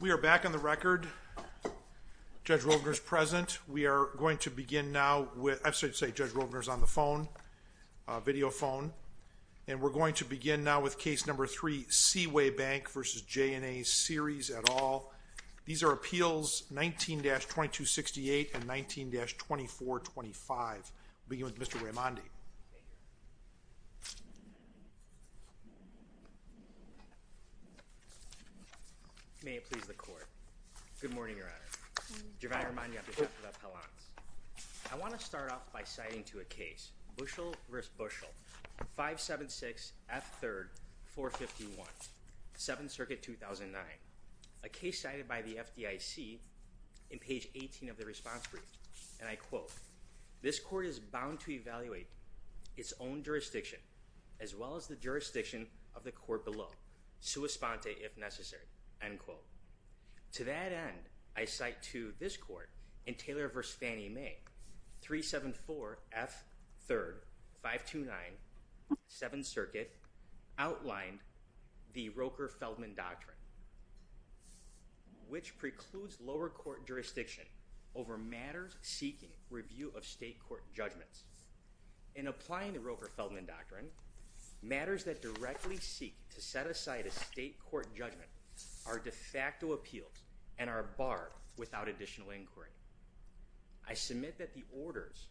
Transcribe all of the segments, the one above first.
We are back on the record. Judge Rovner is present. We are going to begin now with, I'm sorry to say Judge Rovner is on the phone, video phone, and we're going to begin now with case number 3, Seaway Bank v. J&A Series, et al. These are appeals 19-2268 and 19-2425. We'll begin with Mr. Raimondi. May it please the court. Good morning, Your Honor. I want to start off by citing to a case, Bushel v. Bushel, 576F3-451, 7th Circuit, 2009, a case cited by the FDIC in page 18 of the response brief. And I quote, this court is bound to evaluate its own jurisdiction as well as the jurisdiction of the court below, sua sponte if necessary, end quote. To that end, I cite to this court in Taylor v. Fannie Mae, 374F3-529, 7th Circuit, outlined the Roker-Feldman Doctrine, which precludes lower court jurisdiction over matters seeking review of state court judgments. In applying the Roker-Feldman Doctrine, matters that directly seek to set aside a state court judgment are de facto appeals and are barred without additional inquiry. I submit that the orders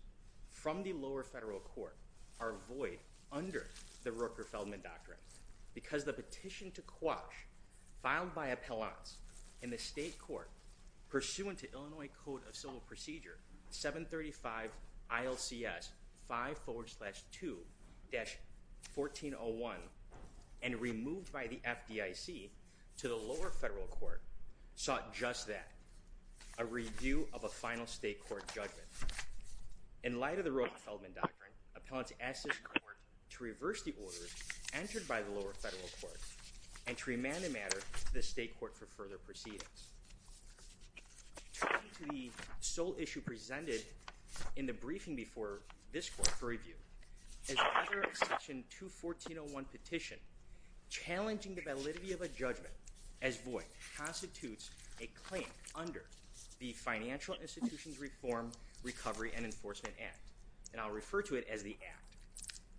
from the lower federal court are void under the Roker-Feldman Doctrine because the petition to quash filed by appellants in the state court pursuant to Illinois Code of Civil Procedure 735 ILCS 5 forward slash 2 dash 1401 and removed by the FDIC to the lower federal court sought just that. A review of a final state court judgment. In light of the Roker-Feldman Doctrine, appellants asked this court to reverse the orders entered by the lower federal court and to remand the matter to the state court for further proceedings. Turning to the sole issue presented in the briefing before this court for review. As a matter of section 214.01 petition, challenging the validity of a judgment as void constitutes a claim under the Financial Institutions Reform, Recovery, and Enforcement Act. And I'll refer to it as the act.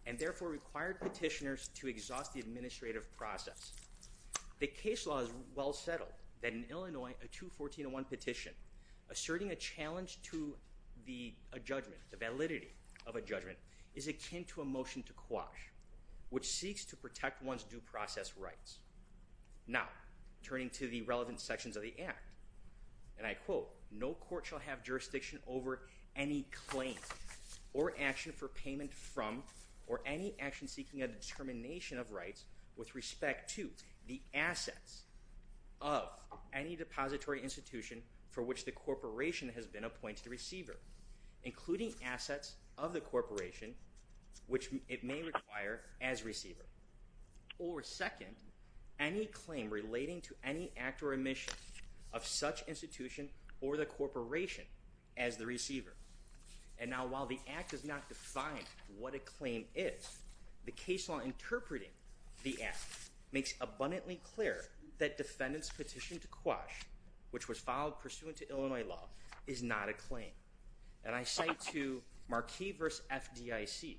And therefore required petitioners to exhaust the administrative process. The case law is well settled that in Illinois, a 214.01 petition asserting a challenge to the judgment, the validity of a judgment, is akin to a motion to quash, which seeks to protect one's due process rights. Now, turning to the relevant sections of the act. And I quote, no court shall have jurisdiction over any claims or action for payment from or any action seeking a determination of rights with respect to the assets of any depository institution for which the corporation has been appointed receiver. Including assets of the corporation, which it may require as receiver. Or second, any claim relating to any act or admission of such institution or the corporation as the receiver. And now, while the act does not define what a claim is, the case law interpreting the act makes abundantly clear that defendant's petition to quash, which was filed pursuant to Illinois law, is not a claim. And I cite to Marquis v. FDIC,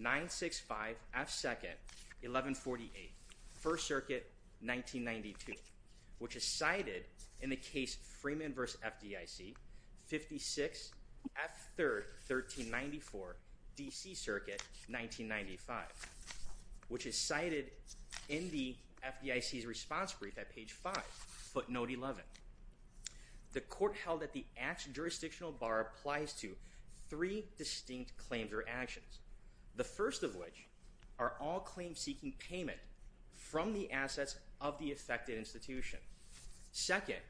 965F2nd, 1148, 1st Circuit, 1992, which is cited in the case Freeman v. FDIC, 56F3rd, 1394, DC Circuit, 1995, which is cited in the FDIC's response brief at page 5, footnote 11. The court held that the act's jurisdictional bar applies to three distinct claims or actions. The first of which are all claims seeking payment from the assets of the affected institution. Second,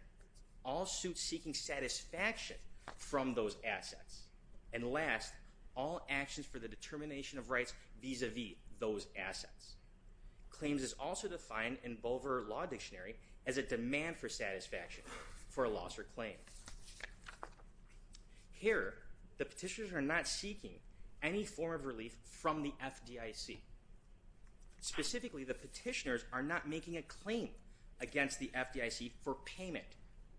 all suits seeking satisfaction from those assets. And last, all actions for the determination of rights vis-a-vis those assets. Claims is also defined in Boever Law Dictionary as a demand for satisfaction for a loss or claim. Here, the petitioners are not seeking any form of relief from the FDIC. Specifically, the petitioners are not making a claim against the FDIC for payment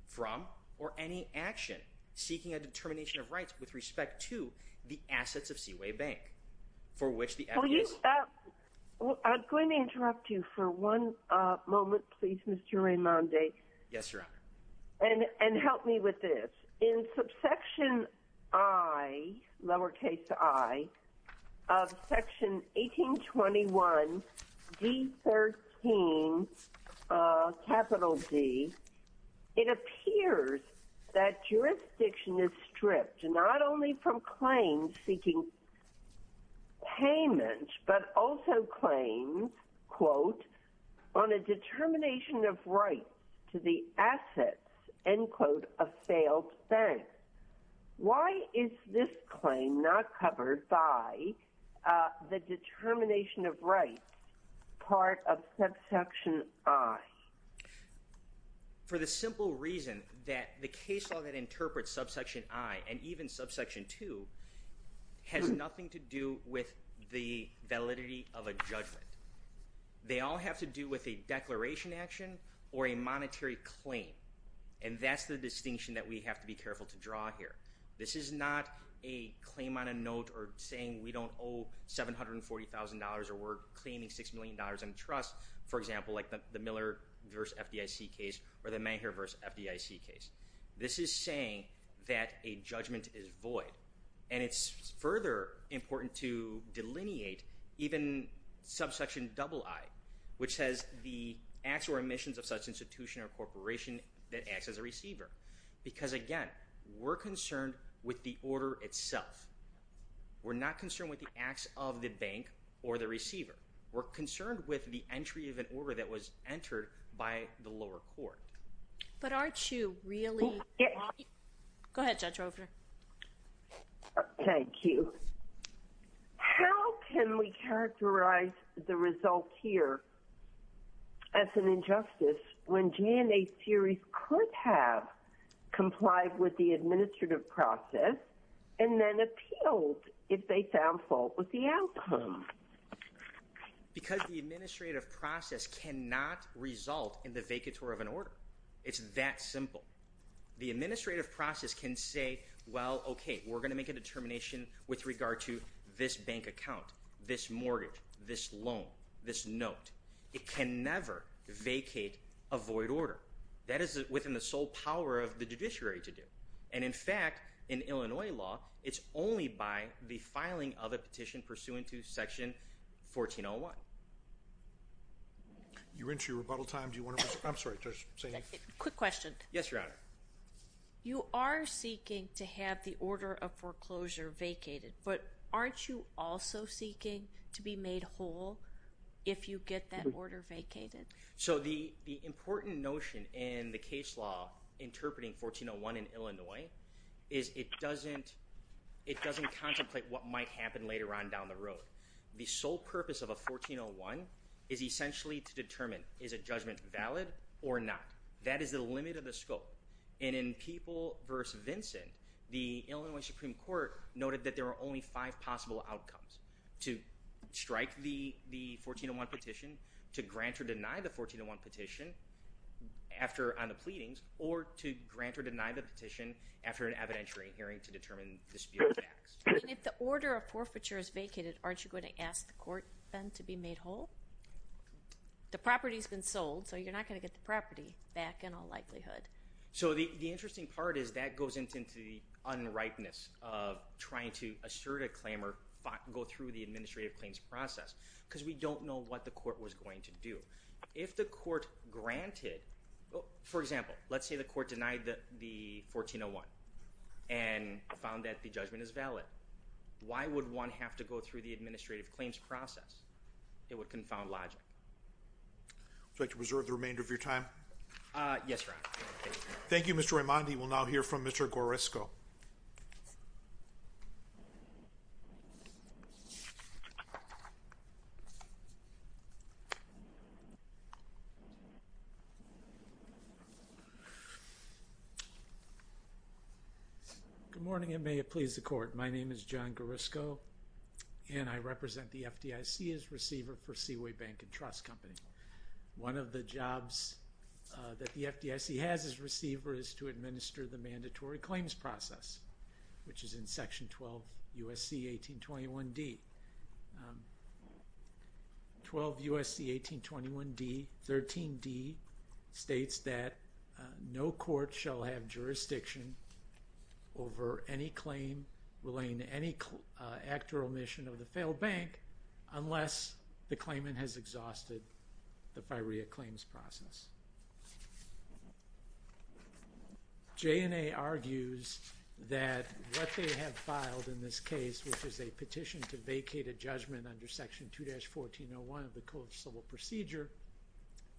from or any action seeking a determination of rights with respect to the assets of Seaway Bank, for which the FDIC… I'm going to interrupt you for one moment, please, Mr. Raimondi. Yes, Your Honor. And help me with this. In subsection I, lowercase I, of section 1821 D13, capital D, it appears that jurisdiction is stripped not only from claims seeking payment, but also claims, quote, on a determination of rights to the assets, end quote, of failed banks. Why is this claim not covered by the determination of rights part of subsection I? For the simple reason that the case law that interprets subsection I and even subsection II has nothing to do with the validity of a judgment. They all have to do with a declaration action or a monetary claim, and that's the distinction that we have to be careful to draw here. This is not a claim on a note or saying we don't owe $740,000 or we're claiming $6 million in trust, for example, like the Miller v. FDIC case or the Mayhear v. FDIC case. This is saying that a judgment is void, and it's further important to delineate even subsection II, which says the acts or omissions of such institution or corporation that acts as a receiver. Because, again, we're concerned with the order itself. We're not concerned with the acts of the bank or the receiver. We're concerned with the entry of an order that was entered by the lower court. But aren't you really? Go ahead, Judge Roper. Thank you. How can we characterize the result here as an injustice when GNA theories could have complied with the administrative process and then appealed if they found fault with the outcome? Because the administrative process cannot result in the vacatur of an order. It's that simple. The administrative process can say, well, okay, we're going to make a determination with regard to this bank account, this mortgage, this loan, this note. It can never vacate a void order. That is within the sole power of the judiciary to do. And, in fact, in Illinois law, it's only by the filing of a petition pursuant to Section 1401. You're into your rebuttal time. Do you want to? I'm sorry. Quick question. Yes, Your Honor. You are seeking to have the order of foreclosure vacated, but aren't you also seeking to be made whole if you get that order vacated? So the important notion in the case law interpreting 1401 in Illinois is it doesn't contemplate what might happen later on down the road. The sole purpose of a 1401 is essentially to determine is a judgment valid or not. That is the limit of the scope. And in People v. Vincent, the Illinois Supreme Court noted that there are only five possible outcomes, to strike the 1401 petition, to grant or deny the 1401 petition on the pleadings, or to grant or deny the petition after an evidentiary hearing to determine disputed facts. I mean, if the order of forfeiture is vacated, aren't you going to ask the court then to be made whole? The property's been sold, so you're not going to get the property back in all likelihood. So the interesting part is that goes into the unrightness of trying to assert a claim or go through the administrative claims process because we don't know what the court was going to do. If the court granted, for example, let's say the court denied the 1401 and found that the judgment is valid, why would one have to go through the administrative claims process? It would confound logic. Would you like to reserve the remainder of your time? Yes, Your Honor. Thank you, Mr. Raimondi. We will now hear from Mr. Gorisko. Good morning, and may it please the Court. My name is John Gorisko, and I represent the FDIC as receiver for Seaway Bank and Trust Company. One of the jobs that the FDIC has as receiver is to administer the mandatory claims process, which is in Section 12 U.S.C. 1821d. 12 U.S.C. 1821d, 13d states that no court shall have jurisdiction over any claim relating to any act or omission of the failed bank unless the claimant has exhausted the FIREA claims process. J&A argues that what they have filed in this case, which is a petition to vacate a judgment under Section 2-1401 of the Coolidge Civil Procedure,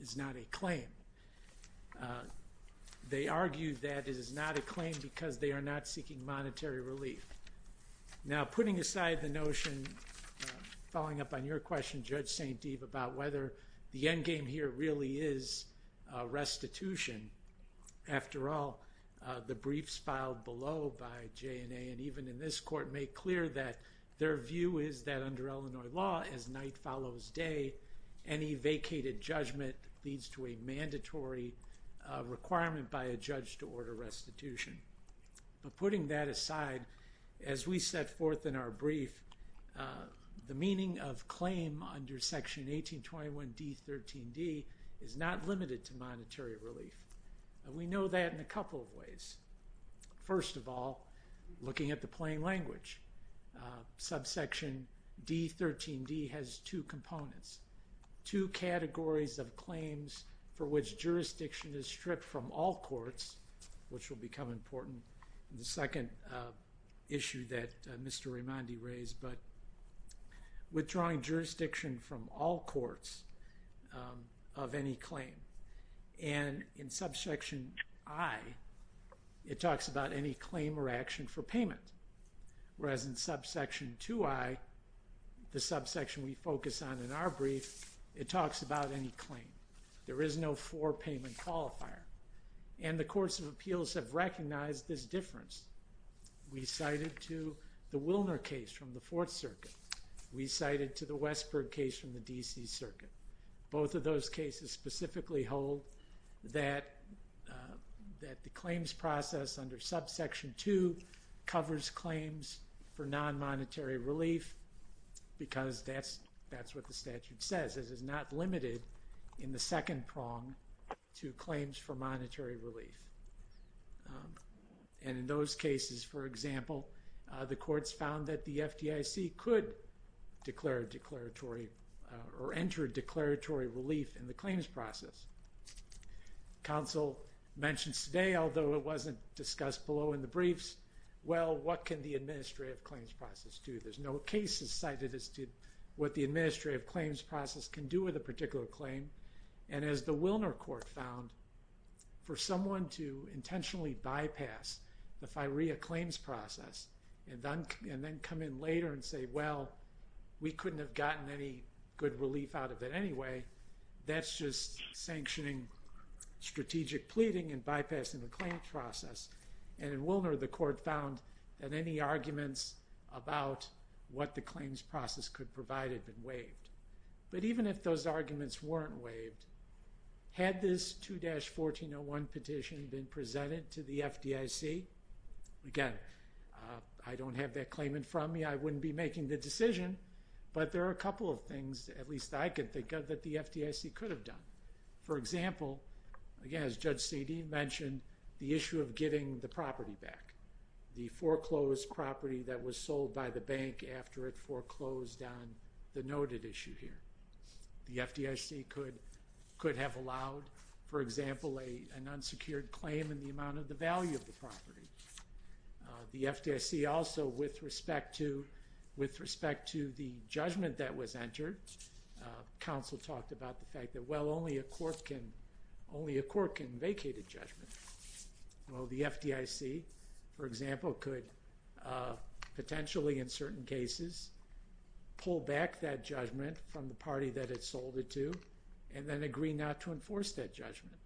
is not a claim. They argue that it is not a claim because they are not seeking monetary relief. Now, putting aside the notion, following up on your question, Judge St. Deve, about whether the endgame here really is restitution, after all, the briefs filed below by J&A and even in this Court make clear that their view is that under Illinois law, as night follows day, any vacated judgment leads to a mandatory requirement by a judge to order restitution. But putting that aside, as we set forth in our brief, the meaning of claim under Section 1821d, 13d is not limited to monetary relief. We know that in a couple of ways. First of all, looking at the plain language. Subsection d, 13d, has two components. Two categories of claims for which jurisdiction is stripped from all courts, which will become important in the second issue that Mr. Raimondi raised, but withdrawing jurisdiction from all courts of any claim. And in subsection i, it talks about any claim or action for payment, whereas in subsection 2i, the subsection we focus on in our brief, it talks about any claim. There is no for-payment qualifier. And the courts of appeals have recognized this difference. We cited to the Wilner case from the Fourth Circuit. We cited to the Westberg case from the D.C. Circuit. Both of those cases specifically hold that the claims process under subsection 2 covers claims for non-monetary relief because that's what the statute says. It is not limited in the second prong to claims for monetary relief. And in those cases, for example, the courts found that the FDIC could declare declaratory or enter declaratory relief in the claims process. Counsel mentions today, although it wasn't discussed below in the briefs, well, what can the administrative claims process do? There's no cases cited as to what the administrative claims process can do with a particular claim. And as the Wilner court found, for someone to intentionally bypass the FIREA claims process and then come in later and say, well, we couldn't have gotten any good relief out of it anyway, that's just sanctioning strategic pleading and bypassing the claims process. And in Wilner, the court found that any arguments about what the claims process could provide had been waived. But even if those arguments weren't waived, had this 2-1401 petition been presented to the FDIC? Again, I don't have that claimant from me. I wouldn't be making the decision. But there are a couple of things, at least I can think of, that the FDIC could have done. For example, again, as Judge Seedy mentioned, the issue of getting the property back, the foreclosed property that was sold by the bank after it foreclosed on the noted issue here. The FDIC could have allowed, for example, an unsecured claim in the amount of the value of the property. The FDIC also, with respect to the judgment that was entered, counsel talked about the fact that, well, only a court can vacate a judgment. Well, the FDIC, for example, could potentially, in certain cases, pull back that judgment from the party that it sold it to and then agree not to enforce that judgment.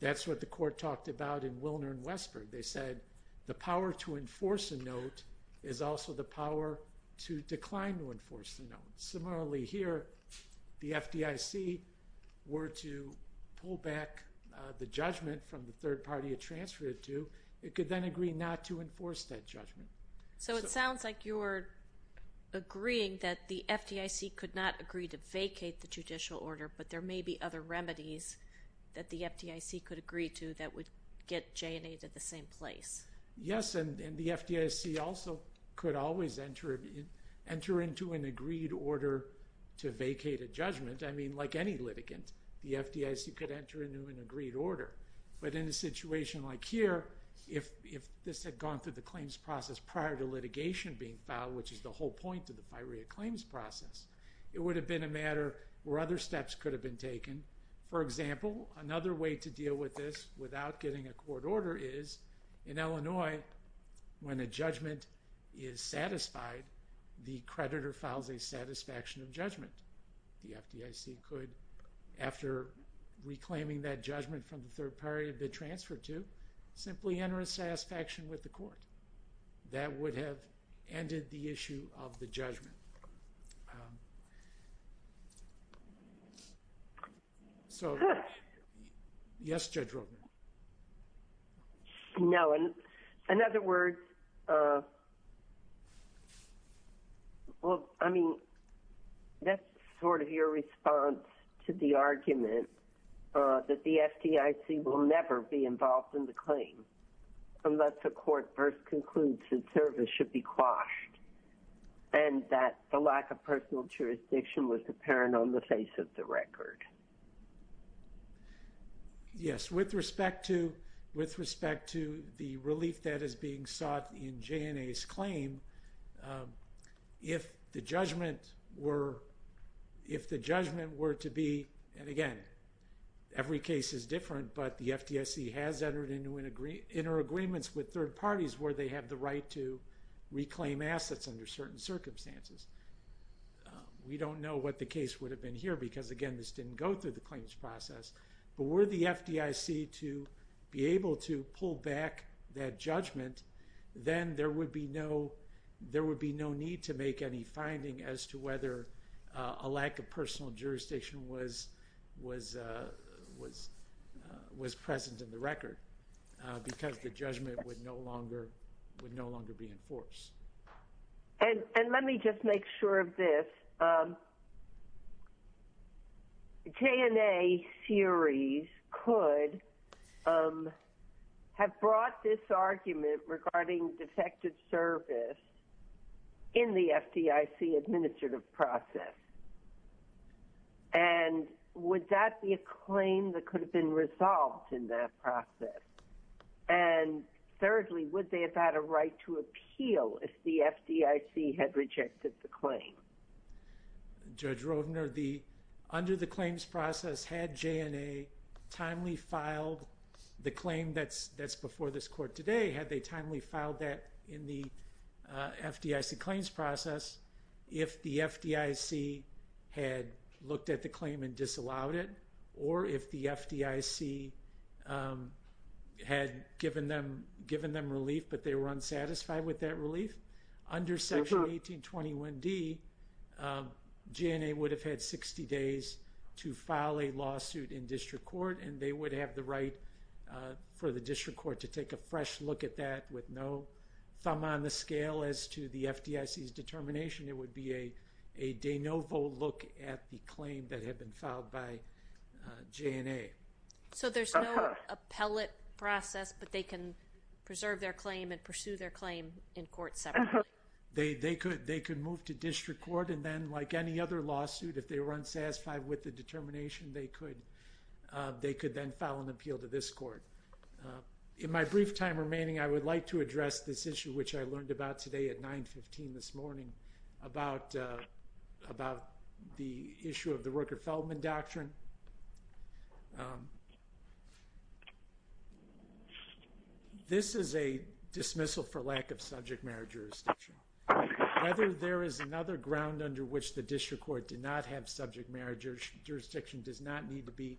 That's what the court talked about in Wilner and Westberg. They said the power to enforce a note is also the power to decline to enforce a note. Similarly here, the FDIC were to pull back the judgment from the third party it transferred it to. It could then agree not to enforce that judgment. So it sounds like you're agreeing that the FDIC could not agree to vacate the judicial order, but there may be other remedies that the FDIC could agree to that would get J&A to the same place. Yes, and the FDIC also could always enter into an agreed order to vacate a judgment. I mean, like any litigant, the FDIC could enter into an agreed order. But in a situation like here, if this had gone through the claims process prior to litigation being filed, which is the whole point of the FIREA claims process, it would have been a matter where other steps could have been taken. For example, another way to deal with this without getting a court order is, in Illinois, when a judgment is satisfied, the creditor files a satisfaction of judgment. The FDIC could, after reclaiming that judgment from the third party it had been transferred to, simply enter a satisfaction with the court. That would have ended the issue of the judgment. So, yes, Judge Rotman? No, in other words, well, I mean, that's sort of your response to the argument that the FDIC will never be involved in the claim unless a court first concludes that service should be quashed and that the lack of personal jurisdiction was apparent on the face of the record. Yes, with respect to the relief that is being sought in JNA's claim, if the judgment were to be, and again, every case is different, but the FDIC has entered into interagreements with third parties where they have the right to reclaim assets under certain circumstances. We don't know what the case would have been here because, again, this didn't go through the claims process, but were the FDIC to be able to pull back that judgment, then there would be no need to make any finding as to whether a lack of personal jurisdiction was present in the record because the judgment would no longer be enforced. And let me just make sure of this. JNA series could have brought this argument regarding defective service in the FDIC administrative process, and would that be a claim that could have been resolved in that process? And thirdly, would they have had a right to appeal if the FDIC had rejected the claim? Judge Roedner, under the claims process, had JNA timely filed the claim that's before this court today? Had they timely filed that in the FDIC claims process if the FDIC had looked at the claim and disallowed it, or if the FDIC had given them relief but they were unsatisfied with that relief? Under Section 1821D, JNA would have had 60 days to file a lawsuit in district court, and they would have the right for the district court to take a fresh look at that with no thumb on the scale as to the FDIC's determination. It would be a de novo look at the claim that had been filed by JNA. So there's no appellate process, but they can preserve their claim and pursue their claim in court separately? They could move to district court, and then, like any other lawsuit, if they were unsatisfied with the determination, they could then file an appeal to this court. In my brief time remaining, I would like to address this issue which I learned about today at 9.15 this morning about the issue of the Rooker-Feldman Doctrine. This is a dismissal for lack of subject matter jurisdiction. Whether there is another ground under which the district court did not have subject matter jurisdiction does not need to be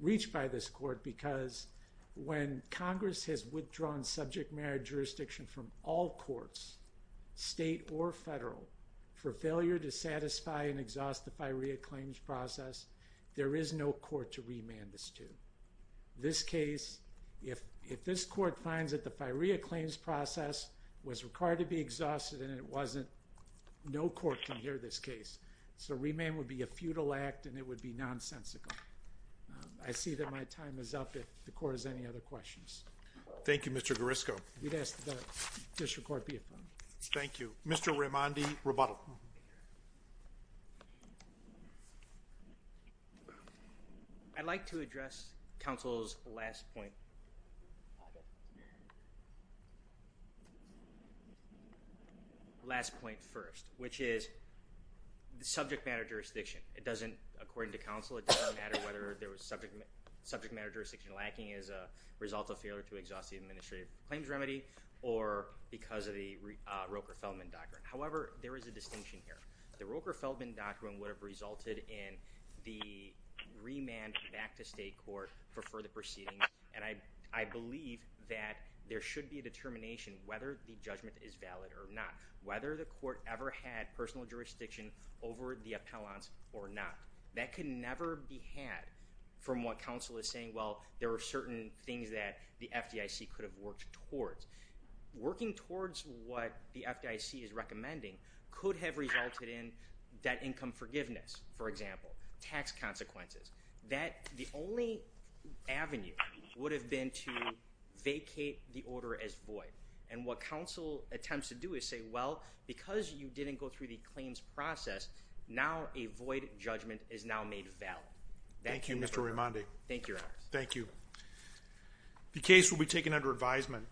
reached by this court because when Congress has withdrawn subject matter jurisdiction from all courts, state or federal, for failure to satisfy and exhaust the FIREA claims process, there is no court to remand this to. This case, if this court finds that the FIREA claims process was required to be exhausted and it wasn't, no court can hear this case. So remand would be a futile act, and it would be nonsensical. I see that my time is up. If the court has any other questions. Thank you, Mr. Garrisco. We'd ask that the district court be affirmed. Thank you. Mr. Raimondi, rebuttal. I'd like to address counsel's last point. Last point first, which is the subject matter jurisdiction. According to counsel, it doesn't matter whether there was subject matter jurisdiction lacking as a result of failure to exhaust the administrative claims remedy or because of the Roker-Feldman doctrine. However, there is a distinction here. The Roker-Feldman doctrine would have resulted in the remand back to state court for further proceedings, and I believe that there should be a determination whether the judgment is valid or not. Whether the court ever had personal jurisdiction over the appellants or not. That could never be had from what counsel is saying, well, there are certain things that the FDIC could have worked towards. Working towards what the FDIC is recommending could have resulted in debt income forgiveness, for example, tax consequences. The only avenue would have been to vacate the order as void, and what counsel attempts to do is say, well, because you didn't go through the claims process, now a void judgment is now made valid. Thank you, Mr. Rimondi. Thank you, Your Honor. Thank you. The case will be taken under advisement.